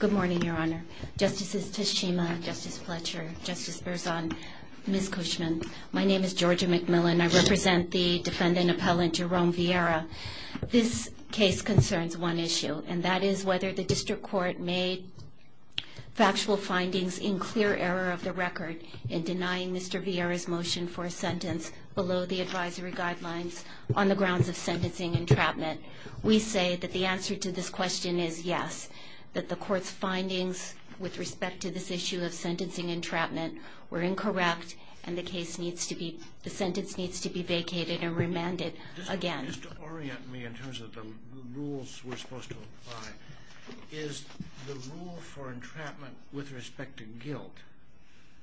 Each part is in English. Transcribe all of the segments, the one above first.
Good morning, Your Honor. Justices Teshima, Justice Fletcher, Justice Berzon, Ms. Cushman, my name is Georgia McMillan. I represent the defendant-appellant Jerome Vierra. This case concerns one issue, and that is whether the district court made factual findings in clear error of the record in denying Mr. Vierra's motion for a sentence below the advisory guidelines on the grounds of sentencing entrapment. We say that the answer to this question is yes, that the court's findings with respect to this issue of sentencing entrapment were incorrect, and the sentence needs to be vacated and remanded again. Just to orient me in terms of the rules we're supposed to apply, is the rule for entrapment with respect to guilt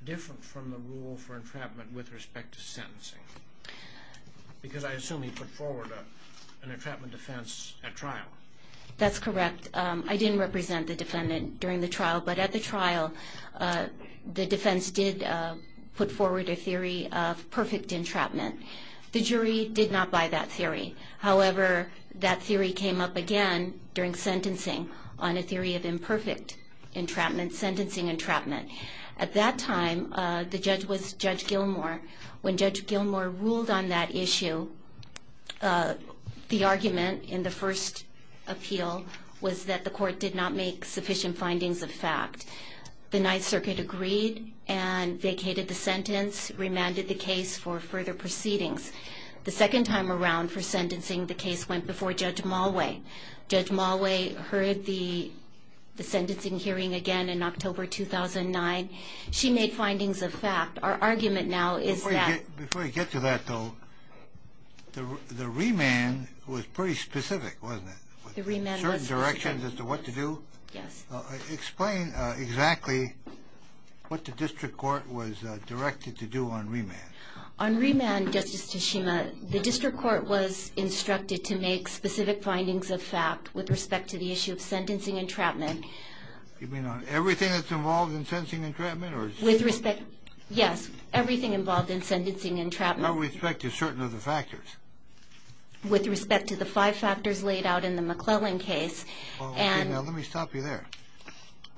different from the rule for entrapment with respect to sentencing? Because I assume he put forward an entrapment defense at trial. That's correct. I didn't represent the defendant during the trial, but at the trial, the defense did put forward a theory of perfect entrapment. The jury did not buy that theory. However, that theory came up again during sentencing on a theory of imperfect entrapment, sentencing entrapment. At that time, the judge was Judge Gilmour. When Judge Gilmour ruled on that issue, the argument in the first appeal was that the court did not make sufficient findings of fact. The Ninth Circuit agreed and vacated the sentence, remanded the case for further proceedings. The second time around for sentencing, the case went before Judge Malway. Judge Malway heard the sentencing hearing again in October 2009. She made findings of fact. Our argument now is that... Before you get to that, though, the remand was pretty specific, wasn't it? The remand was specific. Certain directions as to what to do? Yes. Explain exactly what the district court was directed to do on remand. On remand, Justice Tshishima, the district court was instructed to make specific findings of fact with respect to the issue of sentencing entrapment. You mean on everything that's involved in sentencing entrapment? With respect... Yes. Everything involved in sentencing entrapment. With respect to certain other factors? With respect to the five factors laid out in the McClellan case. Okay, now let me stop you there.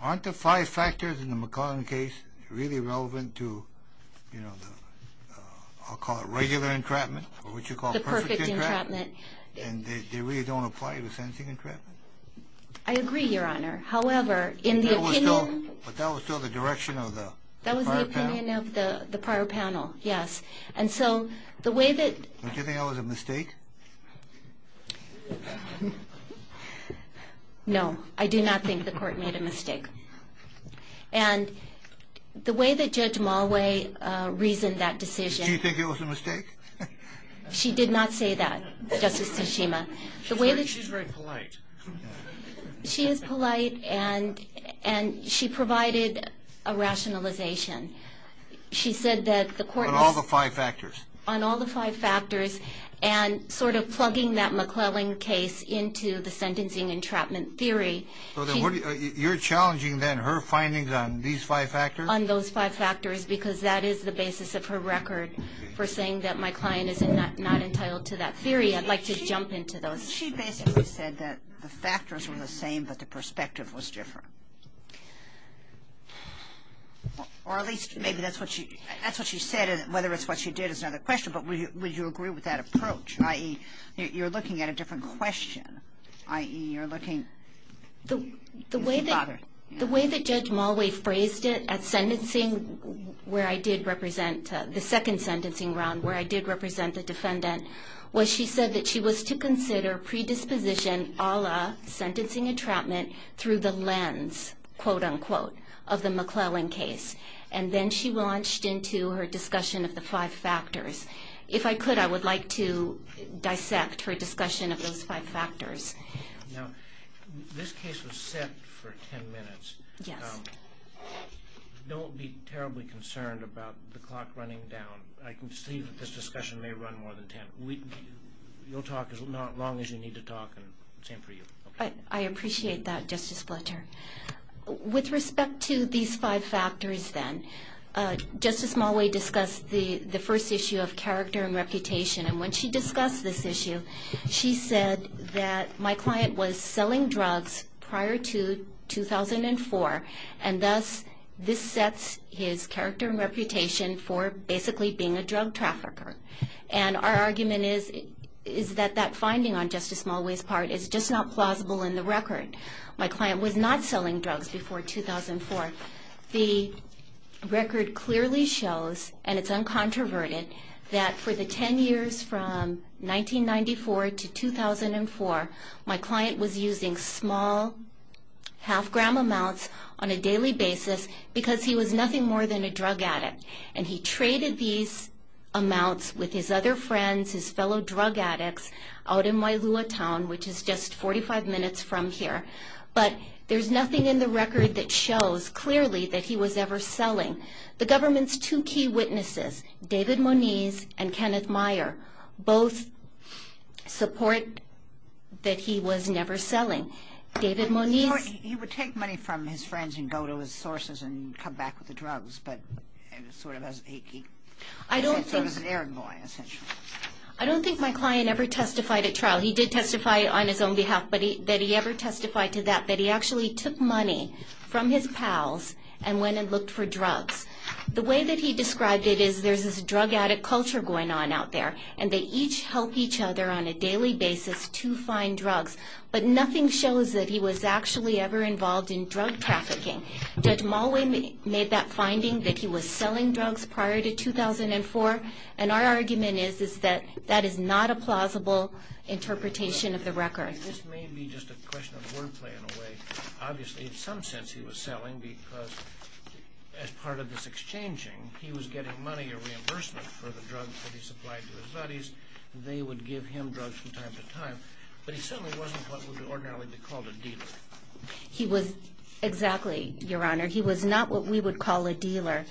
Aren't the five factors in the McClellan case really relevant to, you know, I'll call it regular entrapment, or what you call perfect entrapment? The perfect entrapment. And they really don't apply to sentencing entrapment? I agree, Your Honor. However, in the opinion... But that was still the direction of the prior panel? That was the opinion of the prior panel, yes. And so the way that... Don't you think that was a mistake? No, I do not think the court made a mistake. And the way that Judge Mulway reasoned that decision... Did she think it was a mistake? She did not say that, Justice Tshishima. She's very polite. She is polite, and she provided a rationalization. She said that the court... On all the five factors. On all the five factors, and sort of plugging that McClellan case into the sentencing entrapment theory... So then you're challenging then her findings on these five factors? On those five factors, because that is the basis of her record for saying that my client is not entitled to that theory. I'd like to jump into those. She basically said that the factors were the same, but the perspective was different. Or at least maybe that's what she said, and whether it's what she did is another question. But would you agree with that approach? I.e., you're looking at a different question. I.e., you're looking... The way that Judge Mulway phrased it at sentencing, where I did represent... The second sentencing round, where I did represent the defendant... Was she said that she was to consider predisposition a la sentencing entrapment through the lens, quote-unquote, of the McClellan case. And then she launched into her discussion of the five factors. If I could, I would like to dissect her discussion of those five factors. Now, this case was set for ten minutes. Yes. Don't be terribly concerned about the clock running down. I can see that this discussion may run more than ten. You'll talk as long as you need to talk, and same for you. I appreciate that, Justice Fletcher. With respect to these five factors, then, Justice Mulway discussed the first issue of character and reputation. And when she discussed this issue, she said that my client was selling drugs prior to 2004, and thus this sets his character and reputation for basically being a drug trafficker. And our argument is that that finding on Justice Mulway's part is just not plausible in the record. My client was not selling drugs before 2004. The record clearly shows, and it's uncontroverted, that for the ten years from 1994 to 2004, my client was using small half-gram amounts on a daily basis because he was nothing more than a drug addict. And he traded these amounts with his other friends, his fellow drug addicts, out in Wailua Town, which is just 45 minutes from here. But there's nothing in the record that shows clearly that he was ever selling. The government's two key witnesses, David Moniz and Kenneth Meyer, both support that he was never selling. David Moniz... He would take money from his friends and go to his sources and come back with the drugs, but sort of as an air boy, essentially. I don't think my client ever testified at trial. He did testify on his own behalf that he ever testified to that, that he actually took money from his pals and went and looked for drugs. The way that he described it is there's this drug addict culture going on out there, and they each help each other on a daily basis to find drugs, but nothing shows that he was actually ever involved in drug trafficking. Judge Mulway made that finding that he was selling drugs prior to 2004, and our argument is that that is not a plausible interpretation of the record. And this may be just a question of wordplay in a way. Obviously, in some sense, he was selling because as part of this exchanging, he was getting money or reimbursement for the drugs that he supplied to his buddies. They would give him drugs from time to time. But he certainly wasn't what would ordinarily be called a dealer. He was exactly, Your Honor. He was not what we would call a dealer.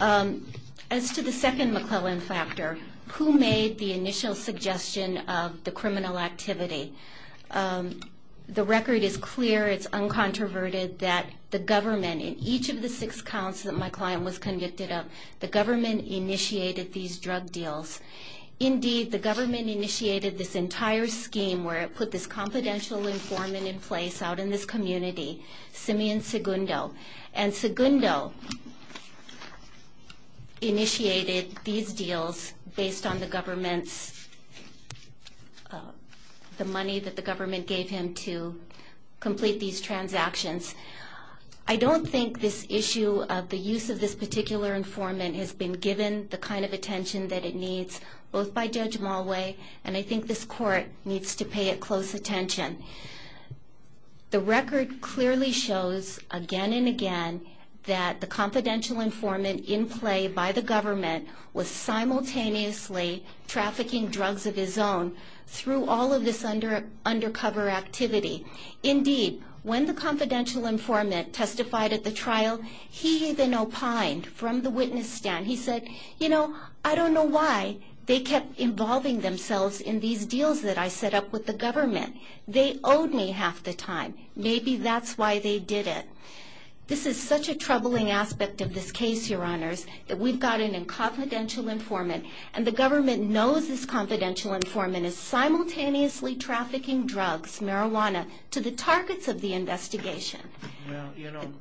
As to the second McClellan factor, who made the initial suggestion of the criminal activity? The record is clear, it's uncontroverted, that the government, in each of the six counts that my client was convicted of, the government initiated these drug deals. Indeed, the government initiated this entire scheme where it put this confidential informant in place out in this community, Simeon Segundo. And Segundo initiated these deals based on the money that the government gave him to complete these transactions. I don't think this issue of the use of this particular informant has been given the kind of attention that it needs, both by Judge Mulway, and I think this Court needs to pay it close attention. The record clearly shows, again and again, that the confidential informant in play by the government was simultaneously trafficking drugs of his own through all of this undercover activity. Indeed, when the confidential informant testified at the trial, he even opined from the witness stand. He said, you know, I don't know why they kept involving themselves in these deals that I set up with the government. They owed me half the time. Maybe that's why they did it. This is such a troubling aspect of this case, Your Honors, that we've got a confidential informant, and the government knows this confidential informant is simultaneously trafficking drugs, marijuana, to the targets of the investigation. Well, you know,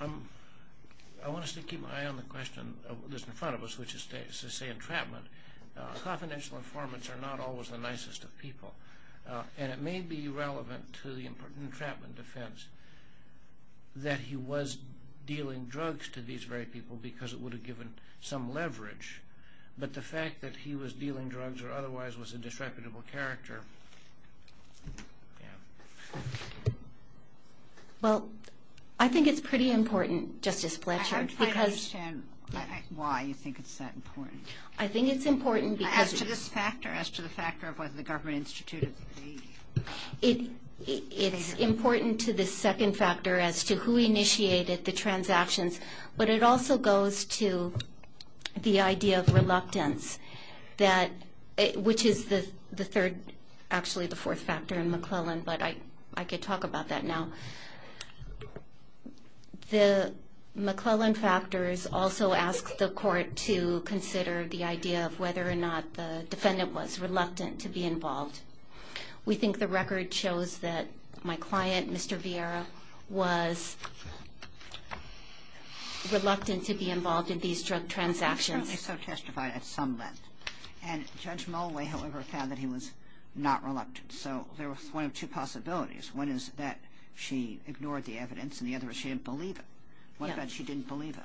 I want us to keep an eye on the question that's in front of us, which is to say entrapment. Confidential informants are not always the nicest of people, and it may be relevant to the entrapment defense that he was dealing drugs to these very people because it would have given some leverage, but the fact that he was dealing drugs or otherwise was a disreputable character. Well, I think it's pretty important, Justice Fletcher, because... I don't quite understand why you think it's that important. I think it's important because... As to this factor, as to the factor of whether the government instituted the... It's important to the second factor as to who initiated the transactions, but it also goes to the idea of reluctance, which is the third, actually the fourth factor in McClellan, but I could talk about that now. The McClellan factors also ask the court to consider the idea of whether or not the defendant was reluctant to be involved. We think the record shows that my client, Mr. Vieira, was reluctant to be involved in these drug transactions. He certainly testified at some length, and Judge Mulway, however, found that he was not reluctant, so there was one of two possibilities. One is that she ignored the evidence, and the other is she didn't believe it. What about she didn't believe it?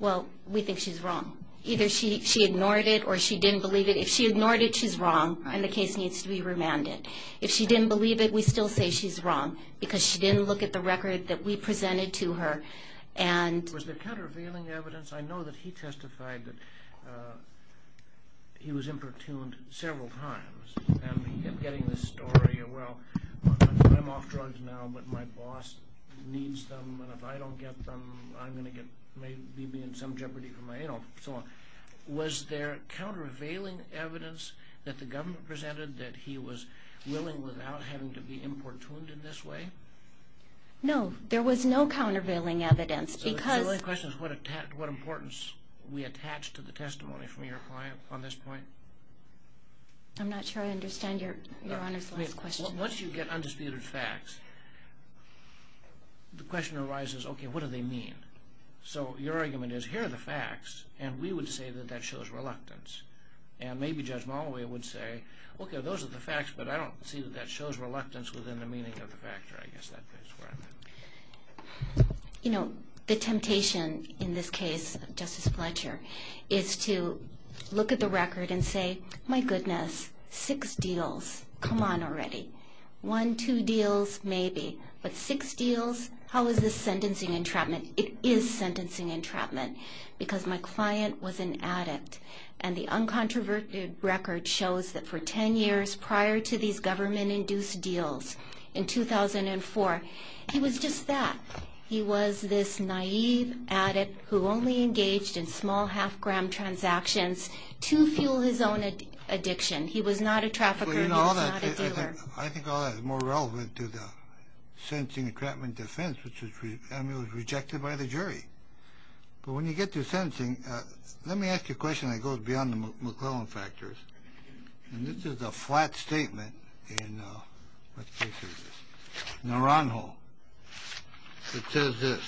Well, we think she's wrong. Either she ignored it or she didn't believe it. If she ignored it, she's wrong, and the case needs to be remanded. If she didn't believe it, we still say she's wrong because she didn't look at the record that we presented to her, and... Was there countervailing evidence? I know that he testified that he was importuned several times, and he kept getting this story, well, I'm off drugs now, but my boss needs them, and if I don't get them, I'm going to be in some jeopardy for my anal, and so on. Was there countervailing evidence that the government presented that he was willing without having to be importuned in this way? No, there was no countervailing evidence because... So the question is what importance we attach to the testimony from your client on this point. I'm not sure I understand Your Honor's last question. Once you get undisputed facts, the question arises, okay, what do they mean? So your argument is, here are the facts, and we would say that that shows reluctance, and maybe Judge Molloy would say, okay, those are the facts, but I don't see that that shows reluctance within the meaning of the fact, or I guess that fits where I'm at. You know, the temptation in this case, Justice Fletcher, is to look at the record and say, my goodness, six deals. Come on already. One, two deals, maybe, but six deals? How is this sentencing entrapment? It is sentencing entrapment because my client was an addict, and the uncontroverted record shows that for 10 years prior to these government-induced deals in 2004, he was just that. He was this naive addict who only engaged in small half-gram transactions to fuel his own addiction. He was not a trafficker, and he was not a dealer. I think all that is more relevant to the sentencing entrapment defense, which was rejected by the jury. But when you get to sentencing, let me ask you a question that goes beyond the McClellan factors, and this is a flat statement in Naranjo. It says this.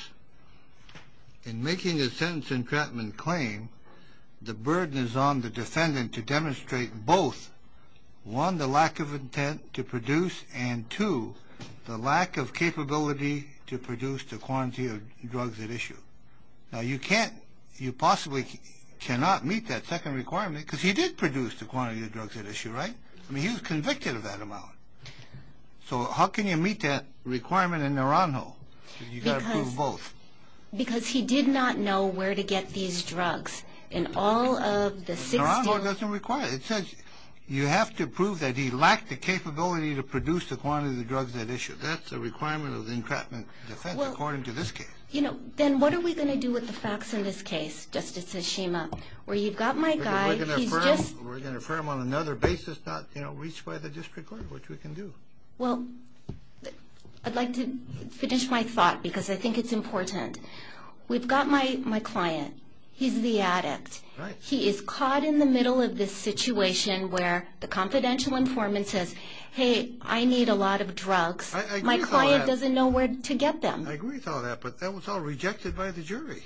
In making a sentencing entrapment claim, the burden is on the defendant to demonstrate both, one, the lack of intent to produce, and two, the lack of capability to produce the quantity of drugs at issue. Now, you possibly cannot meet that second requirement because he did produce the quantity of drugs at issue, right? I mean, he was convicted of that amount. So how can you meet that requirement in Naranjo? You've got to prove both. Because he did not know where to get these drugs in all of the 16... Naranjo doesn't require it. It says you have to prove that he lacked the capability to produce the quantity of drugs at issue. That's a requirement of the entrapment defense, according to this case. Then what are we going to do with the facts in this case, Justice Ishima, where you've got my guy, he's just... We're going to affirm on another basis not reached by the district court, which we can do. Well, I'd like to finish my thought because I think it's important. We've got my client. He's the addict. He is caught in the middle of this situation where the confidential informant says, Hey, I need a lot of drugs. I agree with all that. My client doesn't know where to get them. I agree with all that, but that was all rejected by the jury.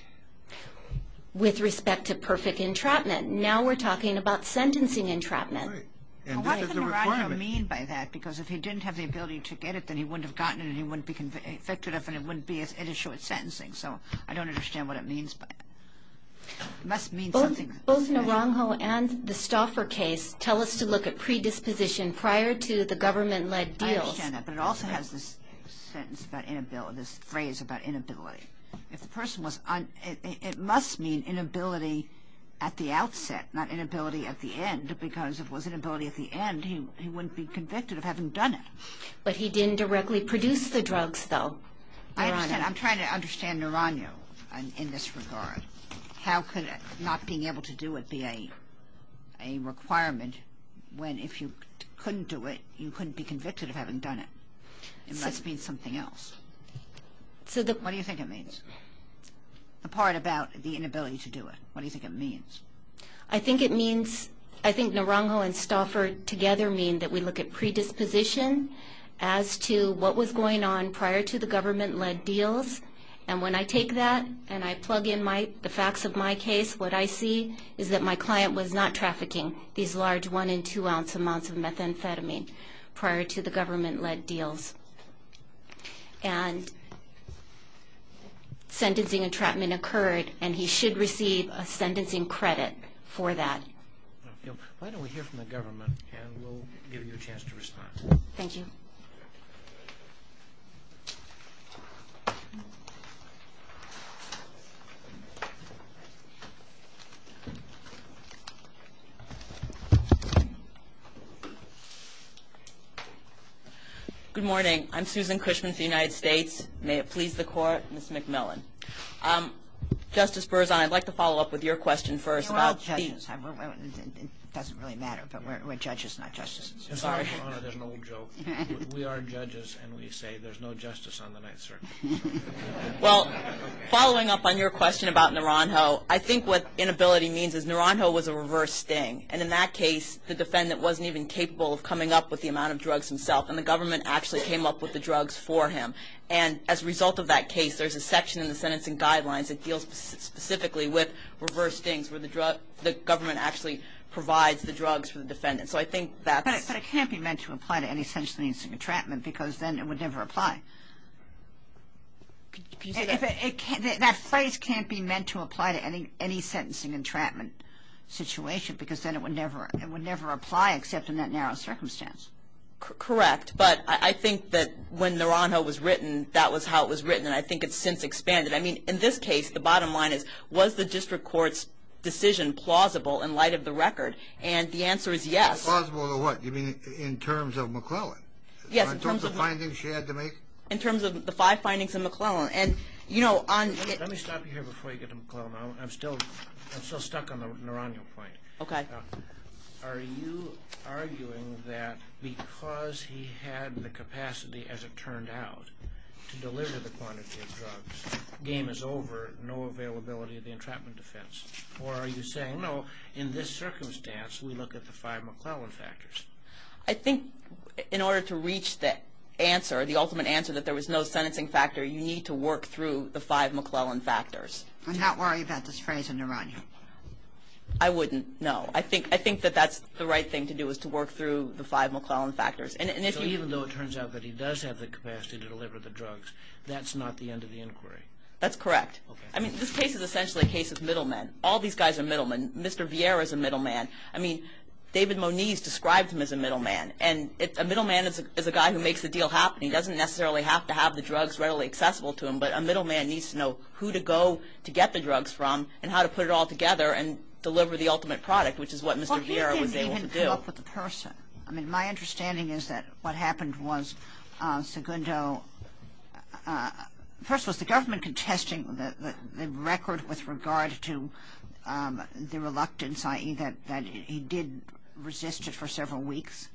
With respect to perfect entrapment, now we're talking about sentencing entrapment. What does Naranjo mean by that? Because if he didn't have the ability to get it, then he wouldn't have gotten it, and he wouldn't be convicted of it, and it wouldn't be at issue with sentencing. So I don't understand what it means, but it must mean something. Both Naranjo and the Stauffer case tell us to look at predisposition prior to the government-led deals. I understand that, but it also has this phrase about inability. If the person was un- It must mean inability at the outset, not inability at the end, because if it was inability at the end, he wouldn't be convicted of having done it. But he didn't directly produce the drugs, though. I understand. I'm trying to understand Naranjo in this regard. How could not being able to do it be a requirement when if you couldn't do it, you couldn't be convicted of having done it? It must mean something else. What do you think it means? The part about the inability to do it, what do you think it means? I think it means- I think Naranjo and Stauffer together mean that we look at predisposition as to what was going on prior to the government-led deals. And when I take that and I plug in the facts of my case, what I see is that my client was not trafficking these large amounts of methamphetamine prior to the government-led deals. And sentencing and trapment occurred, and he should receive a sentencing credit for that. Why don't we hear from the government, and we'll give you a chance to respond. Thank you. Good morning. I'm Susan Cushman for the United States. May it please the Court, Ms. McMillan. Justice Berzon, I'd like to follow up with your question first about- We're all judges. It doesn't really matter, but we're judges, not justices. Sorry. There's an old joke. We are judges, and we say there's no justice on the Ninth Circuit. Well, following up on your question about Naranjo, I think what inability means is Naranjo was a reverse sting. And in that case, the defendant wasn't even capable of coming up with the amount of drugs himself, and the government actually came up with the drugs for him. And as a result of that case, there's a section in the sentencing guidelines that deals specifically with reverse stings, where the government actually provides the drugs for the defendant. So I think that's- But it can't be meant to apply to any sentencing and entrapment, because then it would never apply. That phrase can't be meant to apply to any sentencing and entrapment situation, because then it would never apply, except in that narrow circumstance. Correct. But I think that when Naranjo was written, that was how it was written, and I think it's since expanded. I mean, in this case, the bottom line is, was the district court's decision plausible in light of the record? And the answer is yes. Plausible in what? You mean in terms of McClellan? Yes. In terms of the findings she had to make? In terms of the five findings in McClellan. And, you know, on- Let me stop you here before you get to McClellan. I'm still stuck on the Naranjo point. Okay. Are you arguing that because he had the capacity, as it turned out, to deliver the quantity of drugs, game is over, no availability of the entrapment defense? Or are you saying, no, in this circumstance, we look at the five McClellan factors? I think in order to reach the answer, the ultimate answer, that there was no sentencing factor, you need to work through the five McClellan factors. I'm not worried about this phrase in Naranjo. I wouldn't, no. I think that that's the right thing to do, is to work through the five McClellan factors. So even though it turns out that he does have the capacity to deliver the drugs, that's not the end of the inquiry? That's correct. Okay. I mean, this case is essentially a case of middlemen. All these guys are middlemen. Mr. Vieira is a middleman. I mean, David Moniz described him as a middleman, and a middleman is a guy who makes the deal happen. He doesn't necessarily have to have the drugs readily accessible to him, but a middleman needs to know who to go to get the drugs from and how to put it all together and deliver the ultimate product, which is what Mr. Vieira was able to do. Well, he didn't even come up with the person. I mean, my understanding is that what happened was Segundo, first, was the government contesting the record with regard to the reluctance, i.e., that he did resist it for several weeks?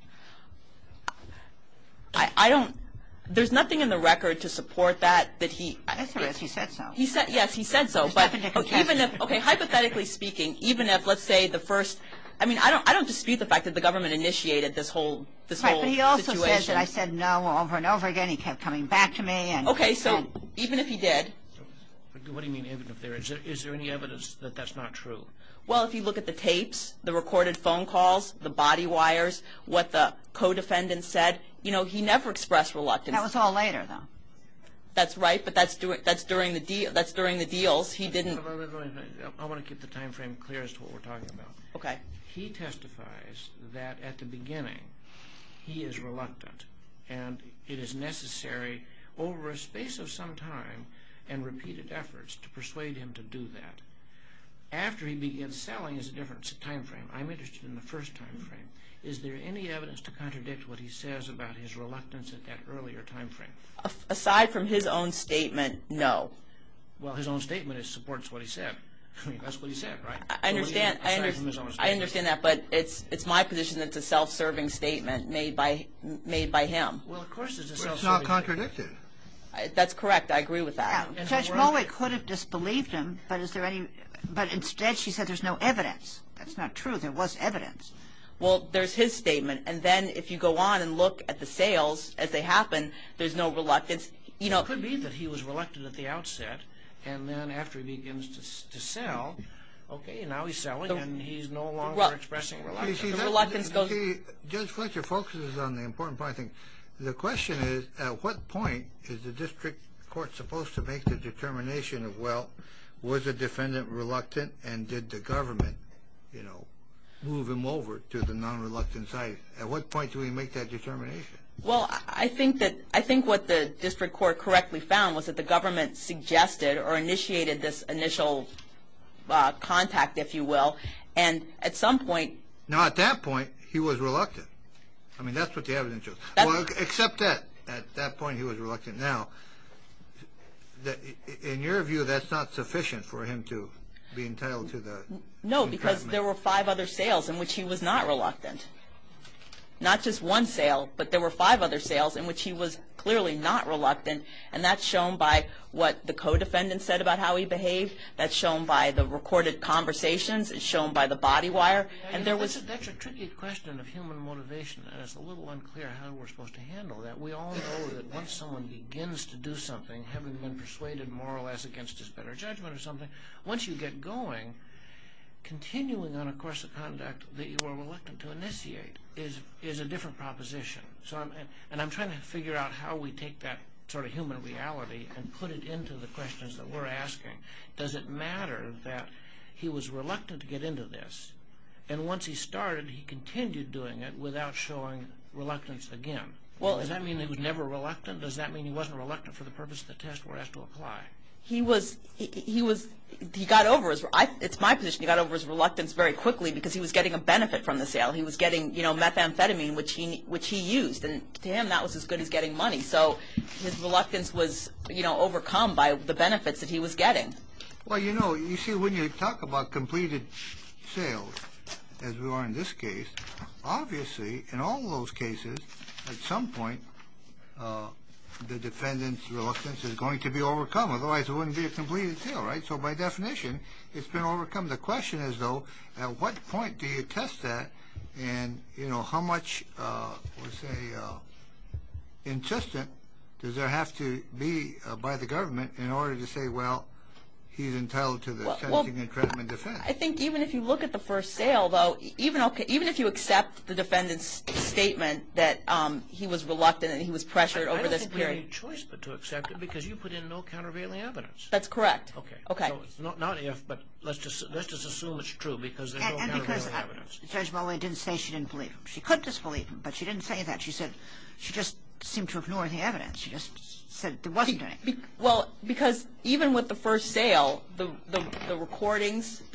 I don't – there's nothing in the record to support that, that he – Yes, there is. He said so. Yes, he said so. Okay, hypothetically speaking, even if, let's say, the first – I mean, I don't dispute the fact that the government initiated this whole situation. Right, but he also says that I said no over and over again. He kept coming back to me. Okay, so even if he did – What do you mean, even if there is? Is there any evidence that that's not true? Well, if you look at the tapes, the recorded phone calls, the body wires, what the co-defendant said, you know, he never expressed reluctance. That was all later, though. That's right, but that's during the deals. He didn't – I want to keep the time frame clear as to what we're talking about. Okay. He testifies that at the beginning he is reluctant, and it is necessary over a space of some time and repeated efforts to persuade him to do that. After he begins selling, it's a different time frame. I'm interested in the first time frame. Is there any evidence to contradict what he says about his reluctance at that earlier time frame? Aside from his own statement, no. Well, his own statement supports what he said. I mean, that's what he said, right? I understand. Aside from his own statement. I understand that, but it's my position that it's a self-serving statement made by him. Well, of course it's a self-serving statement. But it's not contradicted. That's correct. I agree with that. Judge Mowat could have disbelieved him, but instead she said there's no evidence. That's not truth. It was evidence. Well, there's his statement. And then if you go on and look at the sales as they happen, there's no reluctance. It could be that he was reluctant at the outset, and then after he begins to sell, okay, now he's selling and he's no longer expressing reluctance. See, Judge Fletcher focuses on the important part of the thing. The question is, at what point is the district court supposed to make the determination of, well, was the defendant reluctant and did the government move him over to the non-reluctant side? At what point do we make that determination? Well, I think what the district court correctly found was that the government suggested or initiated this initial contact, if you will, and at some point – Now, at that point, he was reluctant. I mean, that's what the evidence shows. Except that at that point he was reluctant. Now, in your view, that's not sufficient for him to be entitled to the – No, because there were five other sales in which he was not reluctant. Not just one sale, but there were five other sales in which he was clearly not reluctant, and that's shown by what the co-defendant said about how he behaved. That's shown by the recorded conversations. It's shown by the body wire. That's a tricky question of human motivation, and it's a little unclear how we're supposed to handle that. We all know that once someone begins to do something, having been persuaded more or less against his better judgment or something, once you get going, continuing on a course of conduct that you are reluctant to initiate is a different proposition. And I'm trying to figure out how we take that sort of human reality and put it into the questions that we're asking. Does it matter that he was reluctant to get into this, and once he started, he continued doing it without showing reluctance again? Does that mean he was never reluctant? Does that mean he wasn't reluctant for the purpose of the test where he had to apply? He was – he got over his – it's my position he got over his reluctance very quickly because he was getting a benefit from the sale. He was getting, you know, methamphetamine, which he used, and to him that was as good as getting money. So his reluctance was, you know, overcome by the benefits that he was getting. Well, you know, you see, when you talk about completed sales, as we are in this case, obviously, in all those cases, at some point, the defendant's reluctance is going to be overcome. Otherwise, it wouldn't be a completed sale, right? So by definition, it's been overcome. The question is, though, at what point do you test that, and, you know, how much, let's say, insistent does there have to be by the government in order to say, well, he's entitled to the sentencing and treatment defense? I think even if you look at the first sale, though, even if you accept the defendant's statement that he was reluctant and he was pressured over this period – I don't think we have any choice but to accept it because you put in no countervailing evidence. That's correct. Okay. Okay. So it's not if, but let's just assume it's true because there's no countervailing evidence. And because Judge Mulway didn't say she didn't believe him. She could disbelieve him, but she didn't say that. She said – she just seemed to ignore the evidence. She just said there wasn't any. Well, because even with the first sale, the recordings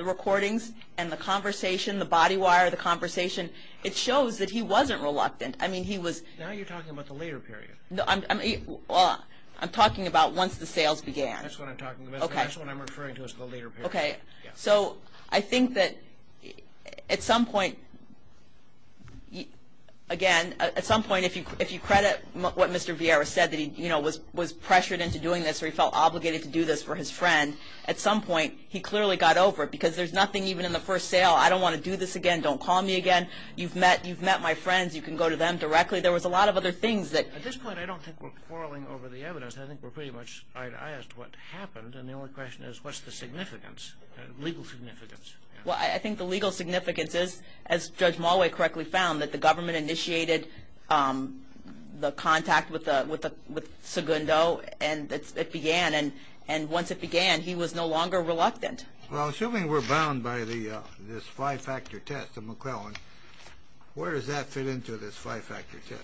and the conversation, the body wire, the conversation, it shows that he wasn't reluctant. I mean, he was – Now you're talking about the later period. Well, I'm talking about once the sales began. That's what I'm talking about. Okay. That's what I'm referring to as the later period. Okay. So I think that at some point, again, at some point, if you credit what Mr. Vieira said that he, you know, was pressured into doing this or he felt obligated to do this for his friend, at some point he clearly got over it because there's nothing even in the first sale. I don't want to do this again. Don't call me again. You've met my friends. You can go to them directly. There was a lot of other things that – At this point, I don't think we're quarreling over the evidence. I think we're pretty much – I asked what happened, and the only question is what's the significance, legal significance? Well, I think the legal significance is, as Judge Mulway correctly found, that the government initiated the contact with Segundo, and it began. And once it began, he was no longer reluctant. Well, assuming we're bound by this five-factor test of McClellan, where does that fit into this five-factor test?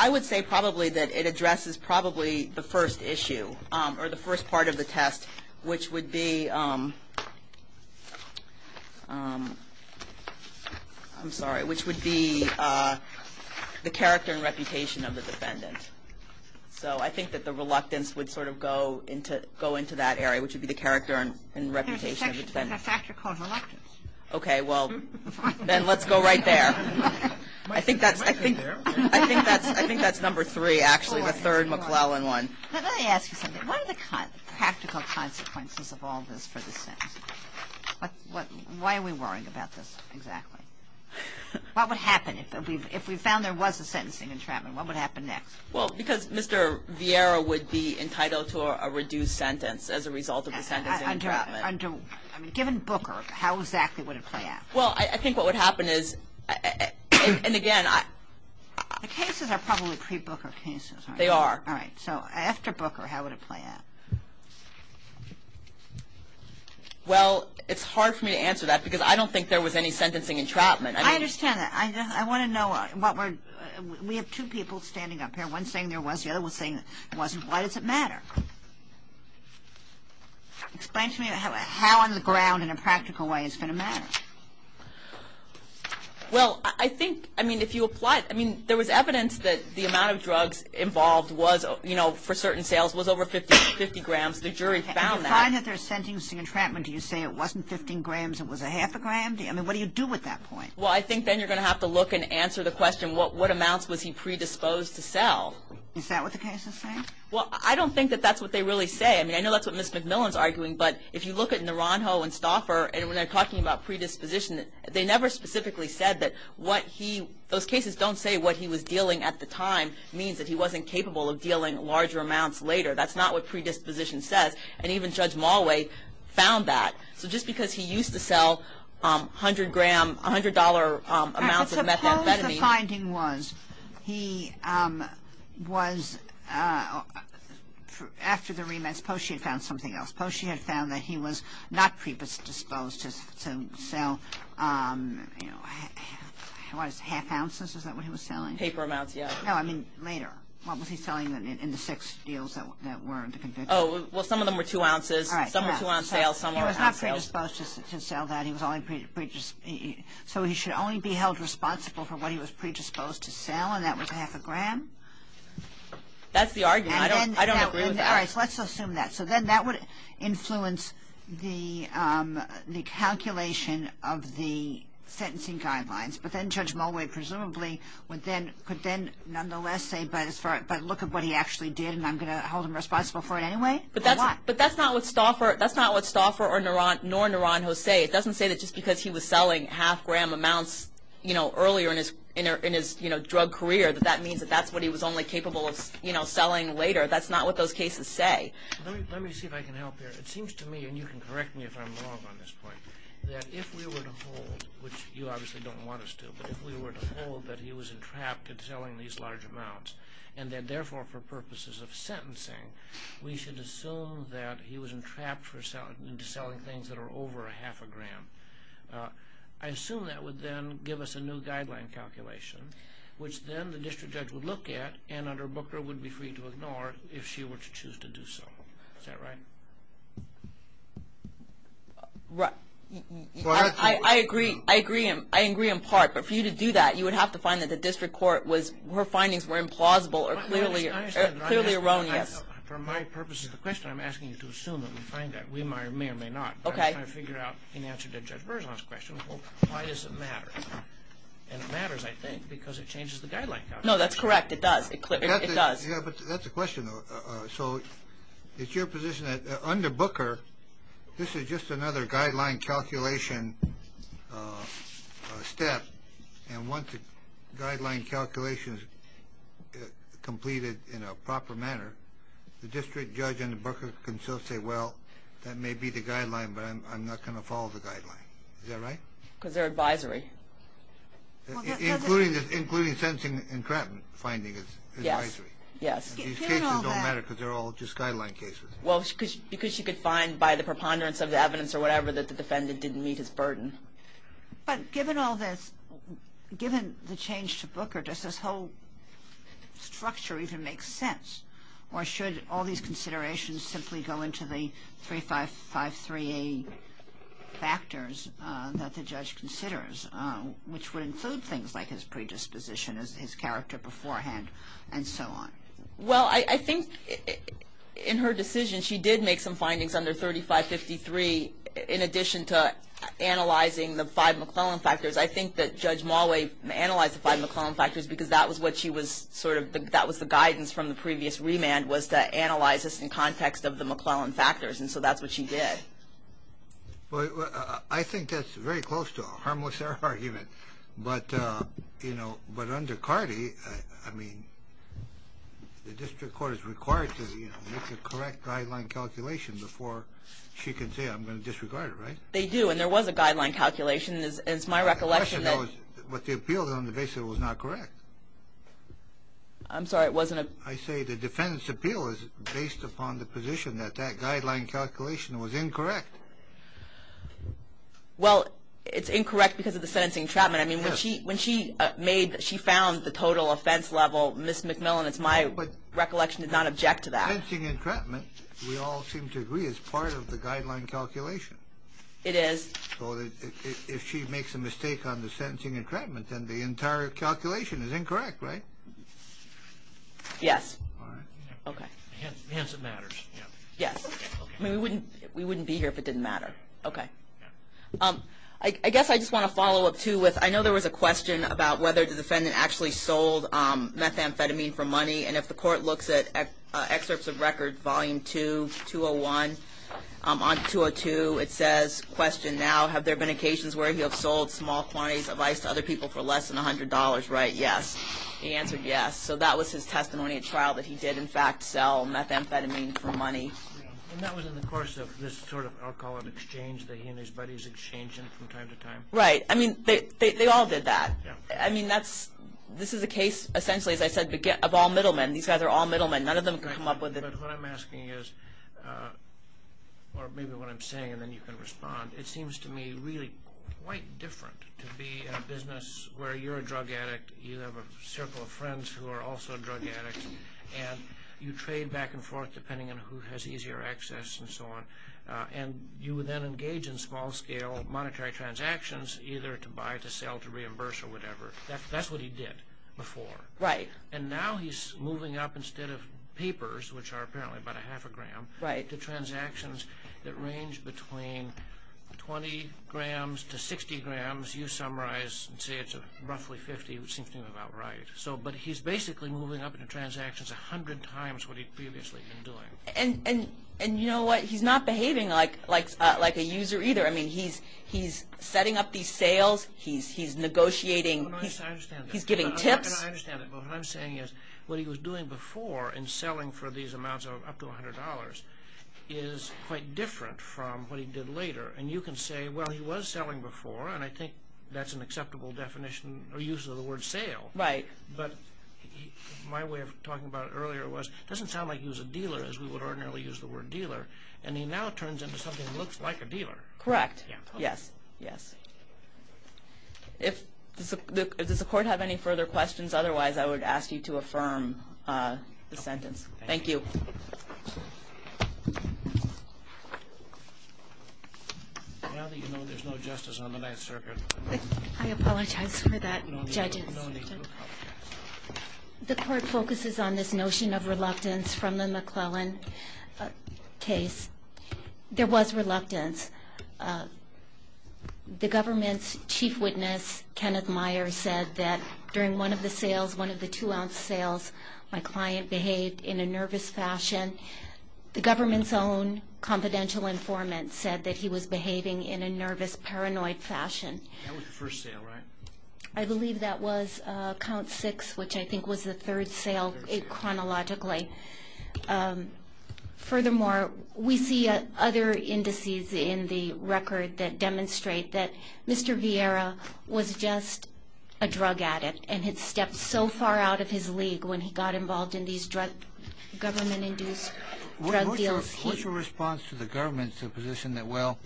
I would say probably that it addresses probably the first issue which would be – I'm sorry – which would be the character and reputation of the defendant. So I think that the reluctance would sort of go into that area, which would be the character and reputation of the defendant. There's a factor called reluctance. Okay, well, then let's go right there. I think that's number three, actually, the third McClellan one. Let me ask you something. What are the practical consequences of all this for the sentence? Why are we worrying about this exactly? What would happen if we found there was a sentencing entrapment? What would happen next? Well, because Mr. Vieira would be entitled to a reduced sentence as a result of the sentencing entrapment. I mean, given Booker, how exactly would it play out? Well, I think what would happen is – and again, I – The cases are probably pre-Booker cases, aren't they? They are. All right. So after Booker, how would it play out? Well, it's hard for me to answer that because I don't think there was any sentencing entrapment. I understand that. I want to know what we're – we have two people standing up here, one saying there was, the other was saying there wasn't. Why does it matter? Explain to me how on the ground in a practical way it's going to matter. Well, I think – I mean, if you apply – I mean, there was evidence that the amount of drugs involved was, you know, for certain sales, was over 50 grams. The jury found that. If you find that there's sentencing entrapment, do you say it wasn't 15 grams, it was a half a gram? I mean, what do you do with that point? Well, I think then you're going to have to look and answer the question, what amounts was he predisposed to sell? Is that what the case is saying? Well, I don't think that that's what they really say. I mean, I know that's what Ms. McMillan's arguing, but if you look at Naranjo and Stauffer and when they're talking about predisposition, they never specifically said that what he – those cases don't say what he was dealing at the time means that he wasn't capable of dealing larger amounts later. That's not what predisposition says. And even Judge Malway found that. So just because he used to sell 100-gram, $100 amounts of methamphetamine – Suppose the finding was he was – after the remand, suppose she had found something else. Suppose she had found that he was not predisposed to sell, you know, what is it, half ounces? Is that what he was selling? Paper amounts, yes. No, I mean later. What was he selling in the six deals that were in the conviction? Oh, well, some of them were two ounces. Some were two-ounce sales. Some were half sales. He was not predisposed to sell that. He was only – so he should only be held responsible for what he was predisposed to sell, That's the argument. I don't agree with that. All right. So let's assume that. So then that would influence the calculation of the sentencing guidelines. But then Judge Malway presumably could then nonetheless say, but look at what he actually did and I'm going to hold him responsible for it anyway. But that's not what Stauffer nor Naranjo say. It doesn't say that just because he was selling half-gram amounts earlier in his drug career that that means that that's what he was only capable of selling later. That's not what those cases say. Let me see if I can help here. It seems to me, and you can correct me if I'm wrong on this point, that if we were to hold, which you obviously don't want us to, but if we were to hold that he was entrapped in selling these large amounts and that, therefore, for purposes of sentencing, we should assume that he was entrapped into selling things that are over half a gram, I assume that would then give us a new guideline calculation, which then the district judge would look at and under Booker would be free to ignore if she were to choose to do so. Is that right? I agree. I agree in part, but for you to do that, you would have to find that the district court was, her findings were implausible or clearly erroneous. For my purposes of the question, I'm asking you to assume that we find that. We may or may not. But I'm trying to figure out, in answer to Judge Berzon's question, why does it matter? And it matters, I think, because it changes the guideline calculation. No, that's correct. It does. It does. Yeah, but that's the question. So it's your position that under Booker, this is just another guideline calculation step, and once the guideline calculation is completed in a proper manner, the district judge under Booker can still say, well, that may be the guideline, but I'm not going to follow the guideline. Is that right? Because they're advisory. Including sentencing and credit finding is advisory. Yes. Yes. These cases don't matter because they're all just guideline cases. Well, because she could find by the preponderance of the evidence or whatever that the defendant didn't meet his burden. But given all this, given the change to Booker, does this whole structure even make sense? Or should all these considerations simply go into the 3553A factors that the judge considers, which would include things like his predisposition, his character beforehand, and so on? Well, I think in her decision she did make some findings under 3553 in addition to analyzing the five McClellan factors. I think that Judge Mollway analyzed the five McClellan factors because that was the guidance from the previous remand, was to analyze this in context of the McClellan factors. And so that's what she did. I think that's very close to a harmless error argument. But under CARDI, I mean, the district court is required to make the correct guideline calculation before she can say, I'm going to disregard it, right? They do. And there was a guideline calculation. And it's my recollection that What the appeal is on the basis that it was not correct. I'm sorry, it wasn't a I say the defendant's appeal is based upon the position that that guideline calculation was incorrect. Well, it's incorrect because of the sentencing entrapment. I mean, when she found the total offense level, Ms. McMillan, it's my recollection, did not object to that. Sentencing entrapment, we all seem to agree, is part of the guideline calculation. It is. So if she makes a mistake on the sentencing entrapment, then the entire calculation is incorrect, right? Yes. All right. Okay. Hence it matters. Yes. I mean, we wouldn't be here if it didn't matter. Okay. I guess I just want to follow up, too, with I know there was a question about whether the defendant actually sold methamphetamine for money. And if the court looks at excerpts of record, volume 2, 201, on 202, it says, question now, have there been occasions where he has sold small quantities of ice to other people for less than $100? Right. Yes. He answered yes. So that was his testimony at trial that he did, in fact, sell methamphetamine for money. And that was in the course of this sort of alcoholic exchange that he and his buddies exchanged from time to time? Right. I mean, they all did that. Yeah. I mean, this is a case, essentially, as I said, of all middlemen. These guys are all middlemen. None of them can come up with it. But what I'm asking is, or maybe what I'm saying, and then you can respond, it seems to me really quite different to be in a business where you're a drug addict, you have a circle of friends who are also drug addicts, and you trade back and forth depending on who has easier access and so on. And you then engage in small-scale monetary transactions, either to buy, to sell, to reimburse, or whatever. That's what he did before. Right. And now he's moving up instead of papers, which are apparently about a half a gram, to transactions that range between 20 grams to 60 grams. You summarize and say it's roughly 50, which seems to me about right. But he's basically moving up in transactions 100 times what he'd previously been doing. And you know what? He's not behaving like a user either. I mean, he's setting up these sales. He's negotiating. I understand that. He's giving tips. I understand that. What I'm saying is what he was doing before in selling for these amounts of up to $100 is quite different from what he did later. And you can say, well, he was selling before, and I think that's an acceptable definition or use of the word sale. Right. But my way of talking about it earlier was, it doesn't sound like he was a dealer as we would ordinarily use the word dealer, and he now turns into something that looks like a dealer. Correct. Yes. Does the Court have any further questions? Otherwise, I would ask you to affirm the sentence. Thank you. Now that you know there's no justice on the Ninth Circuit. I apologize for that, judges. The Court focuses on this notion of reluctance from the McClellan case. There was reluctance. The government's chief witness, Kenneth Meyer, said that during one of the sales, one of the two-ounce sales, my client behaved in a nervous fashion. The government's own confidential informant said that he was behaving in a nervous, paranoid fashion. That was the first sale, right? I believe that was count six, which I think was the third sale chronologically. Furthermore, we see other indices in the record that demonstrate that Mr. Vieira was just a drug addict and had stepped so far out of his league when he got involved in these government-induced drug deals. What's your response to the government's position that, well,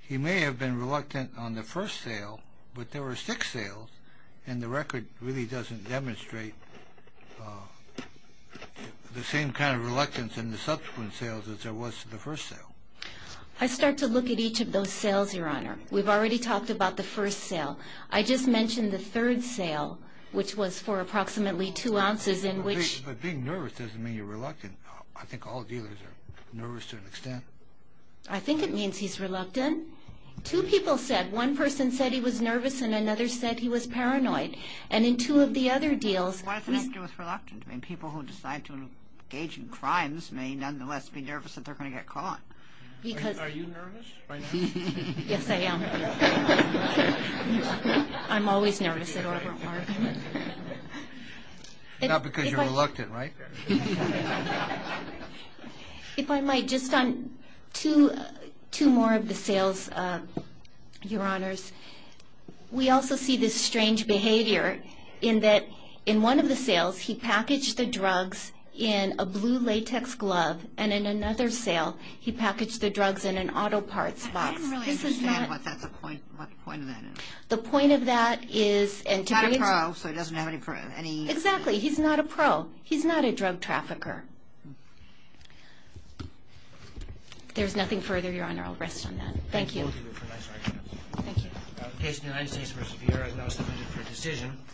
he may have been reluctant on the first sale, but there were six sales, and the record really doesn't demonstrate the same kind of reluctance in the subsequent sales as there was to the first sale? I start to look at each of those sales, Your Honor. We've already talked about the first sale. I just mentioned the third sale, which was for approximately two ounces, in which— But being nervous doesn't mean you're reluctant. I think all dealers are nervous to an extent. I think it means he's reluctant. Two people said—one person said he was nervous, and another said he was paranoid. And in two of the other deals— What does it have to do with reluctance? I mean, people who decide to engage in crimes may nonetheless be nervous that they're going to get caught. Are you nervous right now? Yes, I am. I'm always nervous at Auburn Park. Not because you're reluctant, right? If I might, just on two more of the sales, Your Honors. We also see this strange behavior in that in one of the sales, he packaged the drugs in a blue latex glove, and in another sale, he packaged the drugs in an auto parts box. I didn't really understand what the point of that is. The point of that is— He's not a pro, so he doesn't have any— Exactly, he's not a pro. He's not a drug trafficker. If there's nothing further, Your Honor, I'll rest on that. Thank you. Thank you.